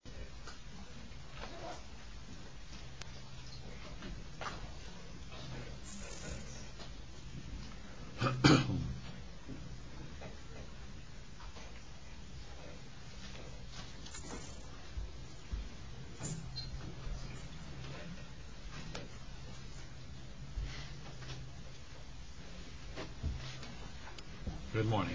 Greetings and welcome to a short interview review of the President's visit to the United States, USA. Good morning.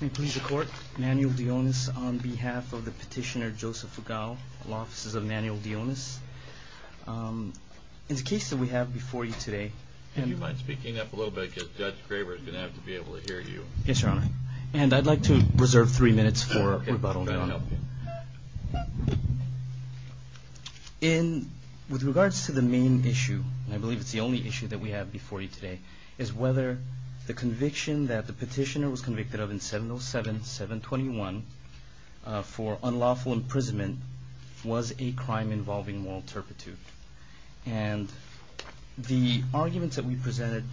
May it please the Court, Manuel Dionis on behalf of the Petitioner Joseph Fugall, Law Offices of Manuel Dionis. In the case that we have before you today... Would you mind speaking up a little bit because Judge Graber is going to have to be able to hear you. Yes, Your Honor. And I'd like to reserve three minutes for rebuttal, Your Honor. Okay, I'll try to help you. With regards to the main issue, and I believe it's the only issue that we have before you today, is whether the conviction that the Petitioner was convicted of in 707-721 for unlawful imprisonment was a crime involving moral turpitude. And the arguments that we presented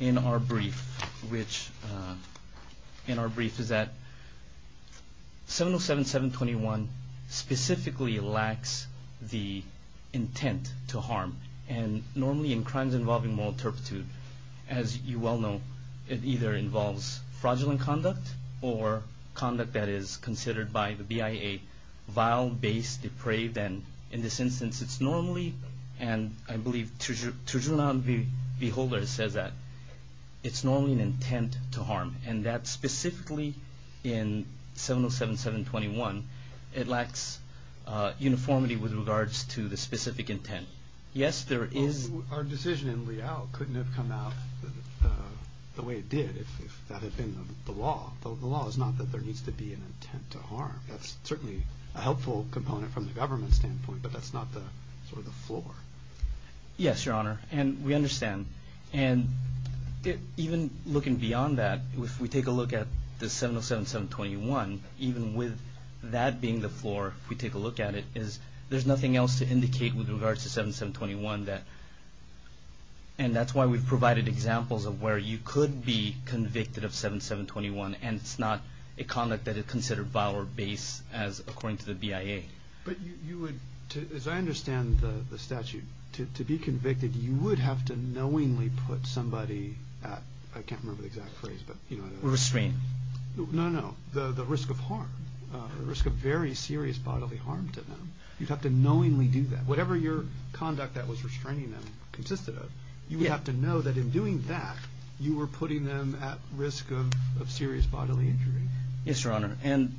in our brief is that 707-721 specifically lacks the As you well know, it either involves fraudulent conduct or conduct that is considered by the BIA vile, base, depraved, and in this instance, it's normally, and I believe Tijuana Beholders says that it's normally an intent to harm. And that specifically in 707-721, it lacks uniformity with regards to the specific intent. Yes, there is... Our decision in Liao couldn't have come out the way it did if that had been the law. The law is not that there needs to be an intent to harm. That's certainly a helpful component from the government standpoint, but that's not the sort of the floor. Yes, Your Honor, and we understand. And even looking beyond that, if we take a look at the 707-721, even with that being the floor, if we take a look at it, is there's nothing else to indicate with regards to 707-721 that, and that's why we've provided examples of where you could be convicted of 707-721, and it's not a conduct that is considered vile or base as according to the BIA. But you would, as I understand the statute, to be convicted, you would have to knowingly put somebody at, I can't remember the exact phrase, but you know... Restraint. No, no, the risk of harm, the risk of very serious bodily harm to them, you'd have to knowingly do that. Whatever your conduct that was restraining them consisted of, you would have to know that in doing that, you were putting them at risk of serious bodily injury. Yes, Your Honor, and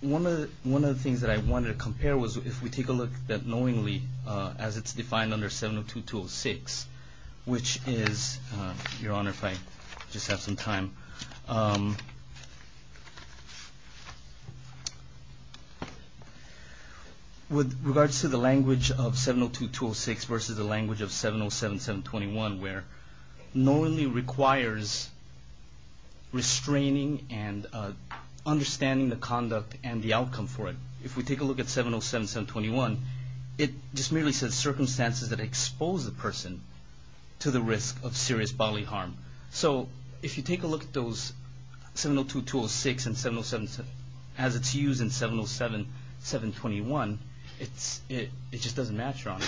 one of the things that I wanted to compare was if we take a look at knowingly as it's defined under 702-206, which is, Your Honor, if I just have some time, with regards to the language of 702-206 versus the language of 707-721 where knowingly requires restraining and understanding the conduct and the outcome for it. If we take a look at 707-721, it just merely says circumstances that expose the person to the risk of serious bodily harm. So if you take a look at those 702-206 and 707-721, it just doesn't match, Your Honor.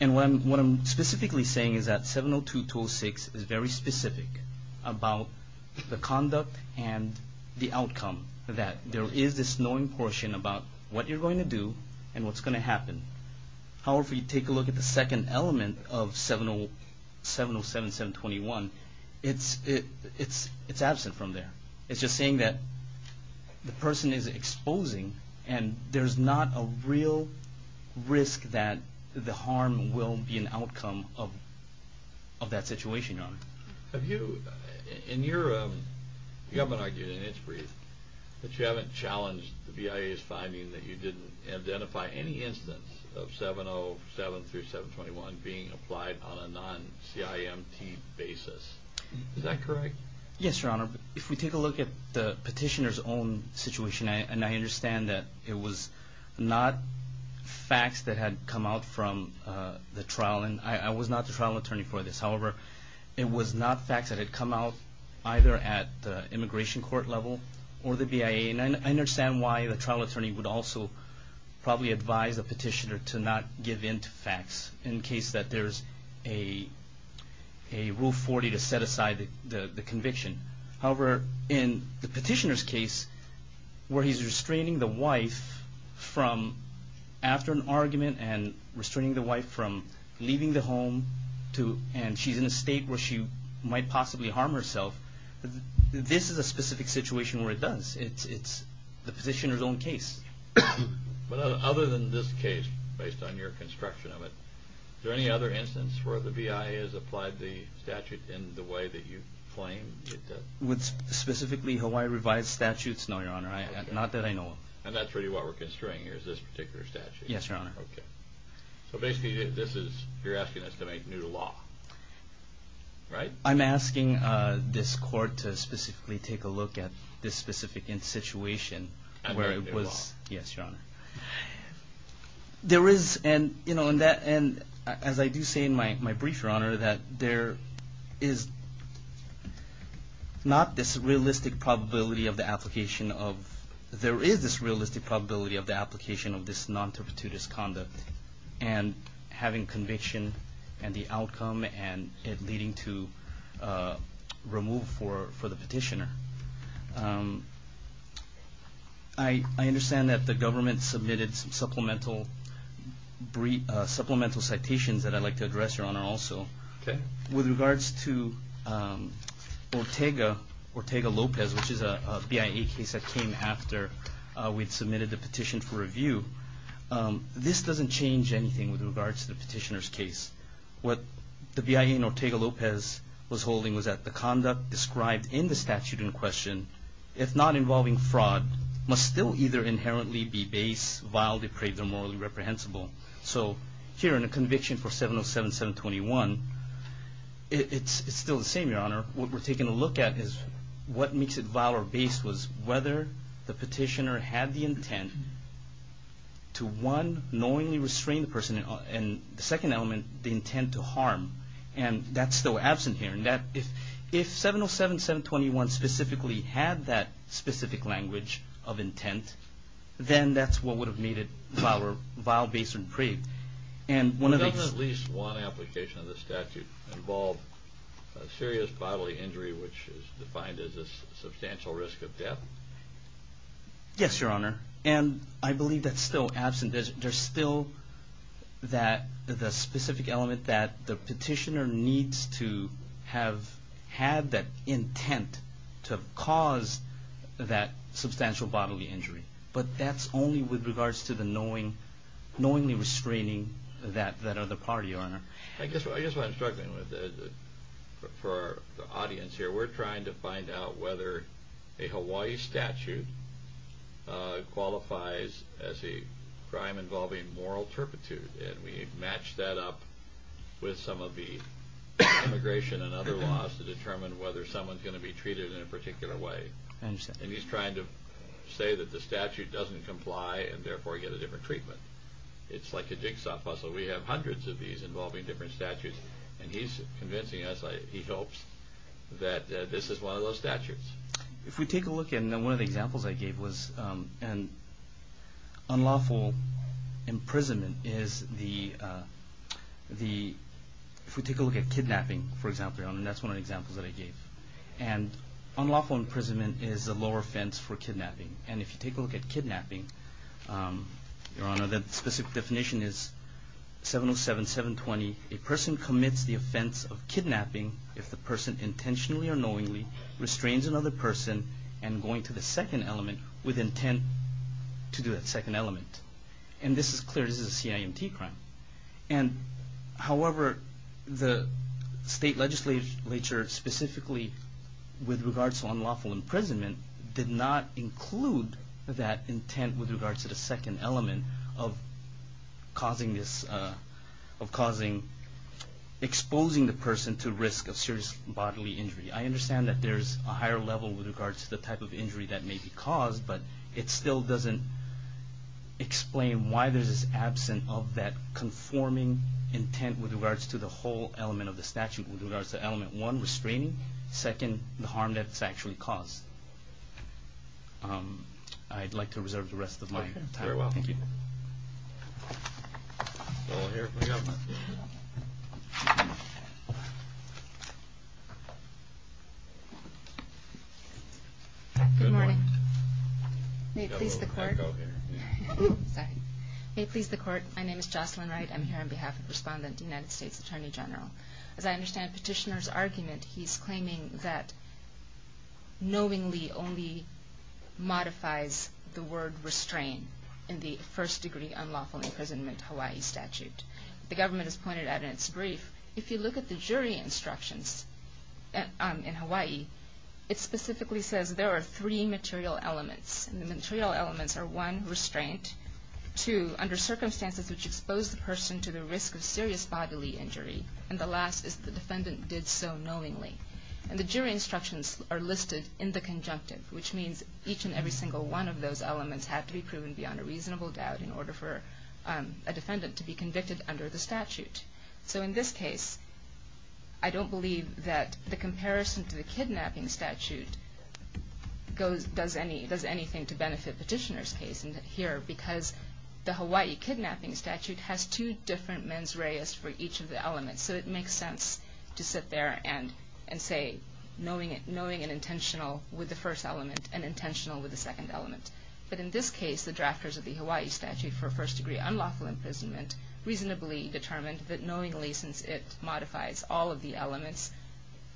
And what I'm specifically saying is that 702-206 is very specific about the conduct and the outcome, that there is this knowing portion about what you're going to do and what's going to happen. However, if you take a look at the second element of 707-721, it's absent from there. It's just saying that the person is exposing and there's not a real risk that the harm will be an outcome of that situation, Your Honor. Have you, in your, you haven't argued in its brief that you haven't challenged the VIA's meaning that you didn't identify any instance of 707-721 being applied on a non-CIMT basis. Is that correct? Yes, Your Honor. If we take a look at the petitioner's own situation, and I understand that it was not facts that had come out from the trial, and I was not the trial attorney for this. However, it was not facts that had come out either at the immigration court level or the immigration court level. I can also probably advise the petitioner to not give in to facts in case that there's a Rule 40 to set aside the conviction. However, in the petitioner's case, where he's restraining the wife from, after an argument and restraining the wife from leaving the home and she's in a state where she might possibly harm herself, this is a specific situation where it does. It's the petitioner's own case. Other than this case, based on your construction of it, is there any other instance where the VIA has applied the statute in the way that you claim it does? With specifically Hawaii revised statutes? No, Your Honor. Not that I know of. And that's really what we're construing here, is this particular statute? Yes, Your Honor. Okay. So basically, this is, you're asking us to make new law, right? I'm asking this court to specifically take a look at this specific situation where it Under the law. Yes, Your Honor. There is, and as I do say in my brief, Your Honor, that there is not this realistic probability of the application of... There is this realistic probability of the application of this non-terpituitous conduct and having conviction and the outcome and it leading to removal for the petitioner. I understand that the government submitted some supplemental citations that I'd like to address, Your Honor, also. With regards to Ortega-Lopez, which is a VIA case that came after we'd submitted the petition for review, this doesn't change anything with regards to the petitioner's case. What the VIA in Ortega-Lopez was holding was that the conduct described in the statute in question, if not involving fraud, must still either inherently be base, vile, depraved, or morally reprehensible. So here in a conviction for 707-721, it's still the same, Your Honor. What we're taking a look at is what makes it vile or base was whether the petitioner had the intent to, one, knowingly restrain the person, and the second element, the intent to harm, and that's still absent here. If 707-721 specifically had that specific language of intent, then that's what would have made it vile, base, or depraved. And one of the... Doesn't at least one application of the statute involve serious bodily injury, which is defined as a substantial risk of death? Yes, Your Honor. And I believe that's still absent. There's still the specific element that the petitioner needs to have had that intent to cause that substantial bodily injury. But that's only with regards to the knowingly restraining that other party, Your Honor. I guess what I'm struggling with, for the audience here, we're trying to find out whether a Hawaii statute qualifies as a crime involving moral turpitude, and we match that up with some of the immigration and other laws to determine whether someone's going to be treated in a particular way. I understand. And he's trying to say that the statute doesn't comply, and therefore get a different treatment. It's like a jigsaw puzzle. We have hundreds of these involving different statutes, and he's convincing us, he hopes, that this is one of those statutes. If we take a look, and one of the examples I gave was an unlawful imprisonment is the – if we take a look at kidnapping, for example, Your Honor, and that's one of the examples that I gave. And unlawful imprisonment is a lower offense for kidnapping. And if you take a look at kidnapping, Your Honor, the specific definition is 707-720, a person commits the offense of kidnapping if the person intentionally or knowingly restrains another person and going to the second element with intent to do that second element. And this is clear, this is a CIMT crime. And however, the state legislature specifically with regards to unlawful imprisonment did not include that intent with regards to the second element of causing this – of exposing the person to risk of serious bodily injury. I understand that there's a higher level with regards to the type of injury that may be caused, but it still doesn't explain why there's this absence of that conforming intent with regards to the whole element of the statute, with regards to element one, restraining, second, the harm that it's actually caused. I'd like to reserve the rest of my time. Very well. Thank you. Good morning. May it please the Court. You've got a little echo here. Sorry. May it please the Court. My name is Jocelyn Wright. I'm here on behalf of Respondent, United States Attorney General. As I understand Petitioner's argument, he's claiming that knowingly only modifies the word restrain in the first degree unlawful imprisonment Hawaii statute. The government has pointed out in its brief, if you look at the jury instructions in Hawaii, it specifically says there are three material elements. And the material elements are, one, restraint, two, under circumstances which expose the risk of serious bodily injury, and the last is the defendant did so knowingly. And the jury instructions are listed in the conjunctive, which means each and every single one of those elements have to be proven beyond a reasonable doubt in order for a defendant to be convicted under the statute. So in this case, I don't believe that the comparison to the kidnapping statute does anything to benefit Petitioner's case here because the Hawaii kidnapping statute has two different mens reis for each of the elements. So it makes sense to sit there and say knowingly and intentional with the first element and intentional with the second element. But in this case, the drafters of the Hawaii statute for first degree unlawful imprisonment reasonably determined that knowingly, since it modifies all of the elements,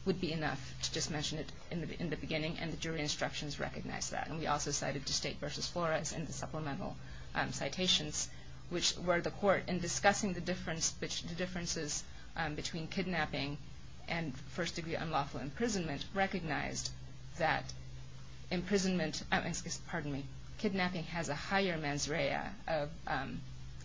would be enough to just mention it in the beginning, and the jury instructions recognize that. And we also cited the state versus flores in the supplemental citations, which were the court in discussing the differences between kidnapping and first degree unlawful imprisonment recognized that kidnapping has a higher mens rea of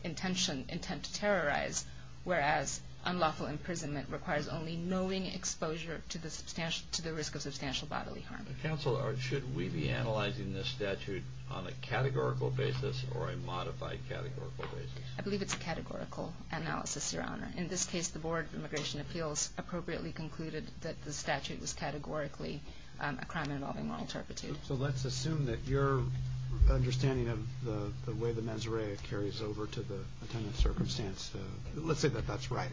intent to terrorize, whereas unlawful imprisonment requires only knowing exposure to the risk of substantial bodily harm. Counsel, should we be analyzing this statute on a categorical basis or a modified categorical basis? I believe it's a categorical analysis, Your Honor. In this case, the Board of Immigration Appeals appropriately concluded that the statute was categorically a crime involving moral turpitude. So let's assume that your understanding of the way the mens rea carries over to the attendant's circumstance. Let's say that that's right.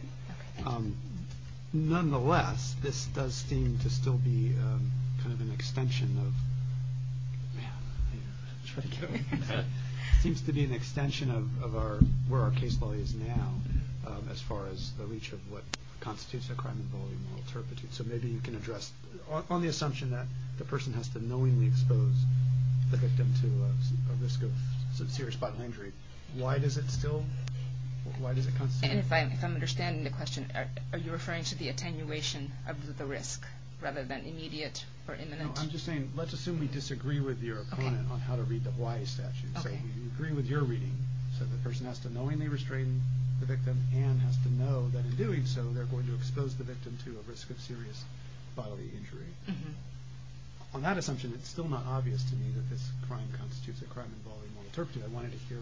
Nonetheless, this does seem to still be kind of an extension of where our case law is now as far as the reach of what constitutes a crime involving moral turpitude. So maybe you can address, on the assumption that the person has to knowingly expose the victim to a risk of serious bodily injury, why does it still, why does it constitute in the question, are you referring to the attenuation of the risk rather than immediate or imminent? I'm just saying, let's assume we disagree with your opponent on how to read the Hawaii statute. So we agree with your reading, so the person has to knowingly restrain the victim and has to know that in doing so, they're going to expose the victim to a risk of serious bodily injury. On that assumption, it's still not obvious to me that this crime constitutes a crime involving moral turpitude. I wanted to hear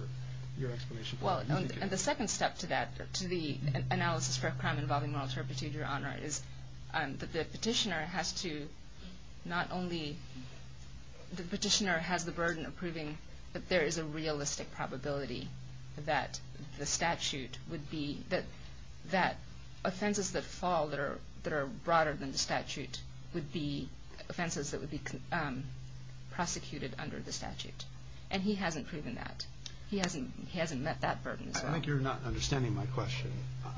your explanation. Well, and the second step to that, to the analysis for a crime involving moral turpitude, Your Honor, is that the petitioner has to not only, the petitioner has the burden of proving that there is a realistic probability that the statute would be, that offenses that fall that are broader than the statute would be offenses that would be prosecuted under the statute. And he hasn't proven that. He hasn't met that burden as well. I think you're not understanding my question.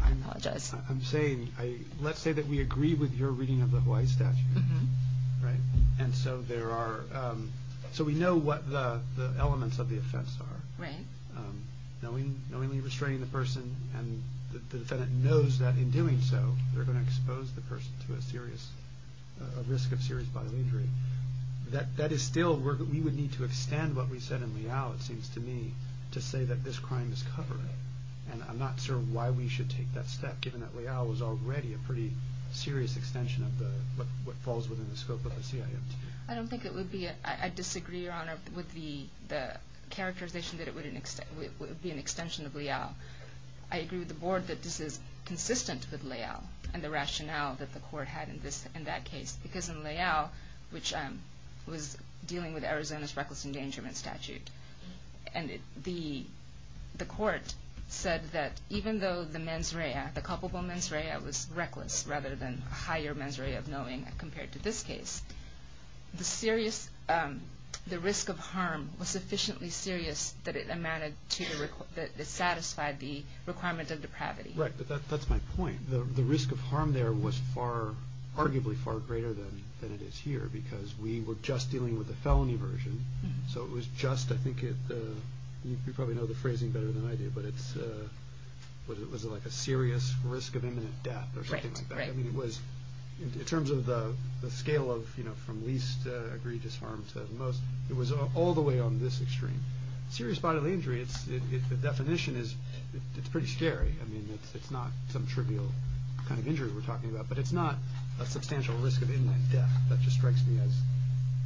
I apologize. I'm saying, let's say that we agree with your reading of the Hawaii statute, right? And so there are, so we know what the elements of the offense are. Right. Knowingly restraining the person and the defendant knows that in doing so, they're going to expose the person to a serious, a risk of serious bodily injury. That is still, we would need to extend what we said in Leal, it seems to me, to say that this crime is covered. And I'm not sure why we should take that step, given that Leal was already a pretty serious extension of what falls within the scope of the CIMT. I don't think it would be, I disagree, Your Honor, with the characterization that it would be an extension of Leal. I agree with the board that this is consistent with Leal and the rationale that the court had in that case, because in Leal, which was dealing with Arizona's reckless endangerment statute, and the court said that even though the mens rea, the culpable mens rea, was reckless rather than higher mens rea of knowing compared to this case, the serious, the risk of harm was sufficiently serious that it amounted to, that it satisfied the requirement of depravity. Right. But that's my point. The risk of harm there was arguably far greater than it is here, because we were just dealing with the felony version, so it was just, I think, you probably know the phrasing better than I do, but it was like a serious risk of imminent death or something like that. Right, right. I mean, it was, in terms of the scale of, you know, from least egregious harm to most, it was all the way on this extreme. Serious bodily injury, the definition is, it's pretty scary. I mean, it's not some trivial kind of injury we're talking about, but it's not a substantial risk of imminent death. That just strikes me as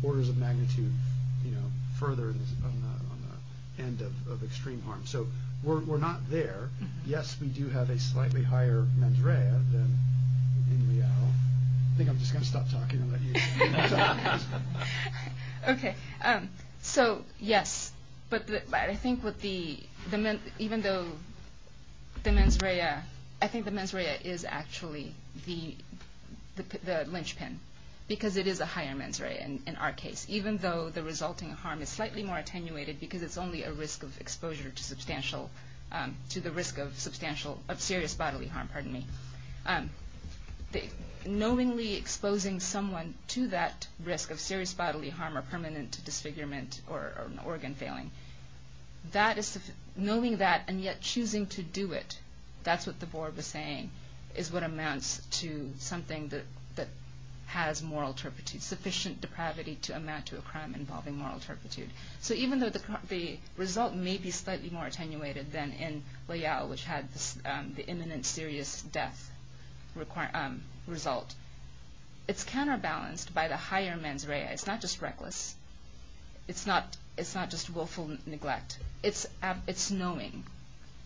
orders of magnitude, you know, further on the end of extreme harm. So we're not there. Yes, we do have a slightly higher mens rea than in Leal. I think I'm just going to stop talking and let you talk. Okay. So, yes, but I think what the, even though the mens rea, I think the mens rea is actually the linchpin, because it is a higher mens rea in our case, even though the resulting harm is slightly more attenuated, because it's only a risk of exposure to substantial, to the risk of substantial, of serious bodily harm, pardon me. Knowingly exposing someone to that risk of serious bodily harm or permanent disfigurement or an organ failing, that is, knowing that and yet choosing to do it, that's what the board was saying, is what amounts to something that has moral turpitude, sufficient depravity to amount to a crime involving moral turpitude. So even though the result may be slightly more attenuated than in Leal, which had the imminent serious death result, it's counterbalanced by the higher mens rea. It's not just reckless. It's not just willful neglect. It's knowing.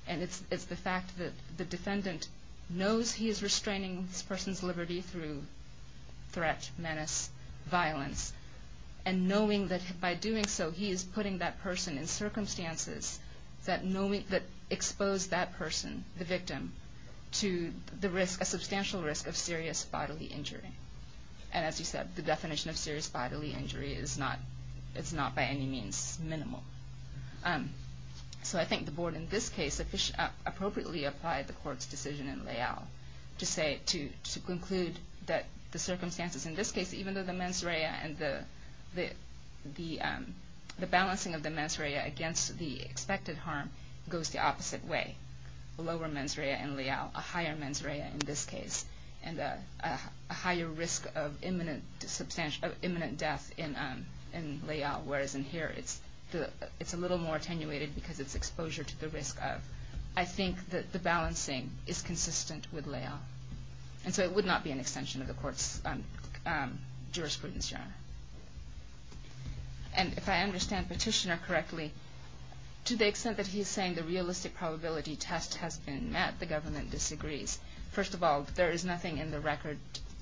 And it's the fact that the defendant knows he is restraining this person's liberty through threat, menace, violence, and knowing that by doing so he is putting that person in circumstances that expose that person, the victim, to the risk, a substantial risk of serious bodily injury. And as you said, the definition of serious bodily injury is not by any means minimal. So I think the board in this case appropriately applied the court's decision in Leal to conclude that the circumstances in this case, even though the mens rea and the balancing of the mens rea against the expected harm goes the opposite way. A lower mens rea in Leal, a higher mens rea in this case, and a higher risk of imminent death in Leal, whereas in here it's a little more attenuated because it's exposure to the risk of. I think that the balancing is consistent with Leal. And so it would not be an extension of the court's jurisprudence, Your Honor. And if I understand Petitioner correctly, to the extent that he is saying the realistic probability test has been met, the government disagrees. First of all, there is nothing in the record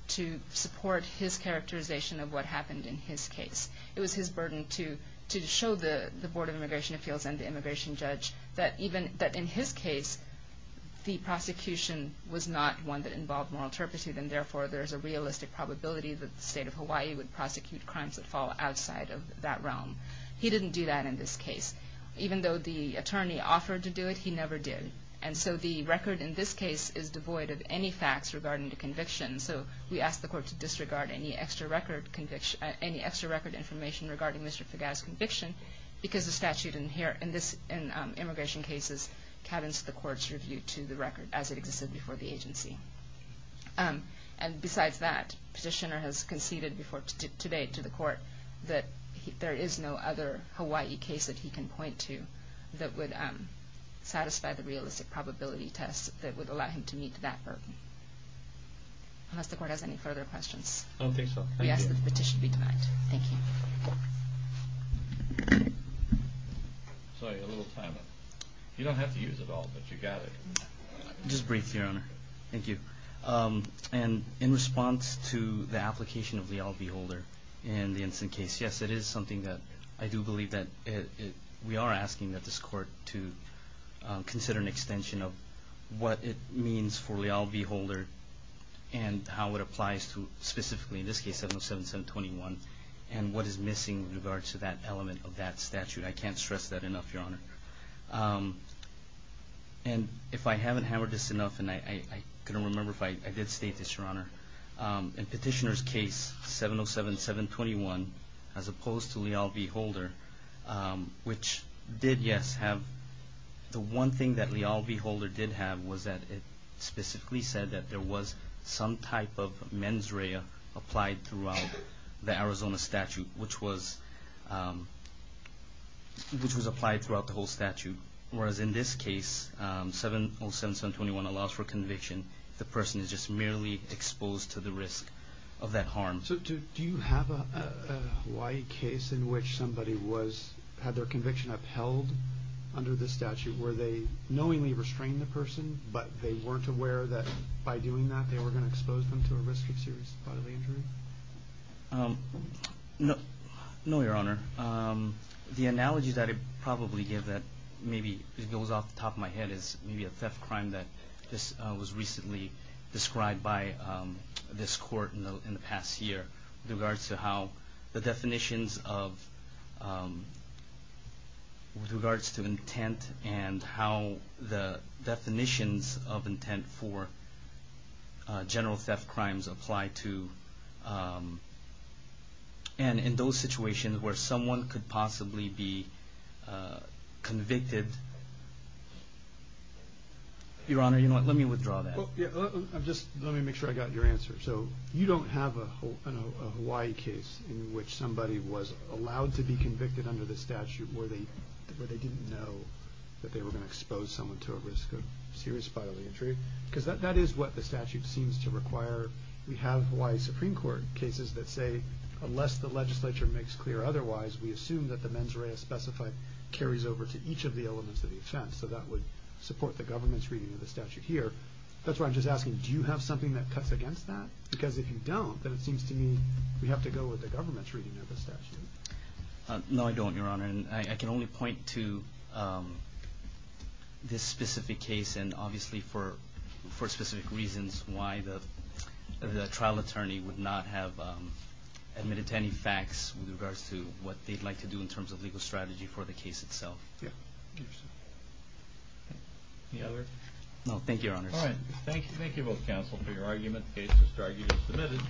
to support his characterization of what happened in his case. It was his burden to show the Board of Immigration Appeals and the immigration judge that in his case the prosecution was not one that involved moral turpitude and therefore there is a realistic probability that the state of Hawaii would prosecute crimes that fall outside of that realm. He didn't do that in this case. Even though the attorney offered to do it, he never did. And so the record in this case is devoid of any facts regarding the conviction. So we ask the court to disregard any extra record information regarding Mr. Fagat's conviction because the statute in immigration cases cabins the court's review to the record as it existed before the agency. And besides that, Petitioner has conceded today to the court that there is no other Hawaii case that he can point to that would satisfy the realistic probability test that would allow him to meet that burden. Unless the court has any further questions. I don't think so. We ask that the petition be denied. Thank you. Sorry, a little timeout. You don't have to use it all, but you got it. Just briefly, Your Honor. Thank you. And in response to the application of leal beholder in the Ensign case, yes, it is something that I do believe that we are asking that this court to consider an extension of what it means for leal beholder and how it applies to specifically, in this case, 707-721, and what is missing in regards to that element of that statute. I can't stress that enough, Your Honor. And if I haven't hammered this enough, and I couldn't remember if I did state this, Your Honor. In Petitioner's case, 707-721, as opposed to leal beholder, which did, yes, have the one thing that leal beholder did have was that it specifically said that there was some type of mens rea applied throughout the Arizona statute, which was applied throughout the whole statute, whereas in this case, 707-721 allows for conviction if the person is just merely exposed to the risk of that harm. So do you have a Hawaii case in which somebody had their conviction upheld under the statute where they knowingly restrained the person, but they weren't aware that by doing that they were going to expose them to a risk of serious bodily injury? No, Your Honor. The analogy that I probably give that maybe goes off the top of my head is maybe a theft crime that was recently described by this court in the past year with regards to how the definitions of, with regards to intent and how the definitions of intent for general theft crimes apply to, and in those situations where someone could possibly be convicted. Your Honor, you know what, let me withdraw that. Let me make sure I got your answer. So you don't have a Hawaii case in which somebody was allowed to be convicted under the statute where they didn't know that they were going to expose someone to a risk of serious bodily injury? Because that is what the statute seems to require. We have Hawaii Supreme Court cases that say unless the legislature makes clear otherwise, we assume that the mens rea specified carries over to each of the elements of the offense. So that would support the government's reading of the statute here. That's why I'm just asking, do you have something that cuts against that? Because if you don't, then it seems to me we have to go with the government's reading of the statute. No, I don't, Your Honor, and I can only point to this specific case and obviously for specific reasons why the trial attorney would not have admitted to any facts with regards to what they'd like to do in terms of legal strategy for the case itself. Yeah, I understand. Any other? No, thank you, Your Honor. All right, thank you both, counsel, for your argument. The case is argued and submitted.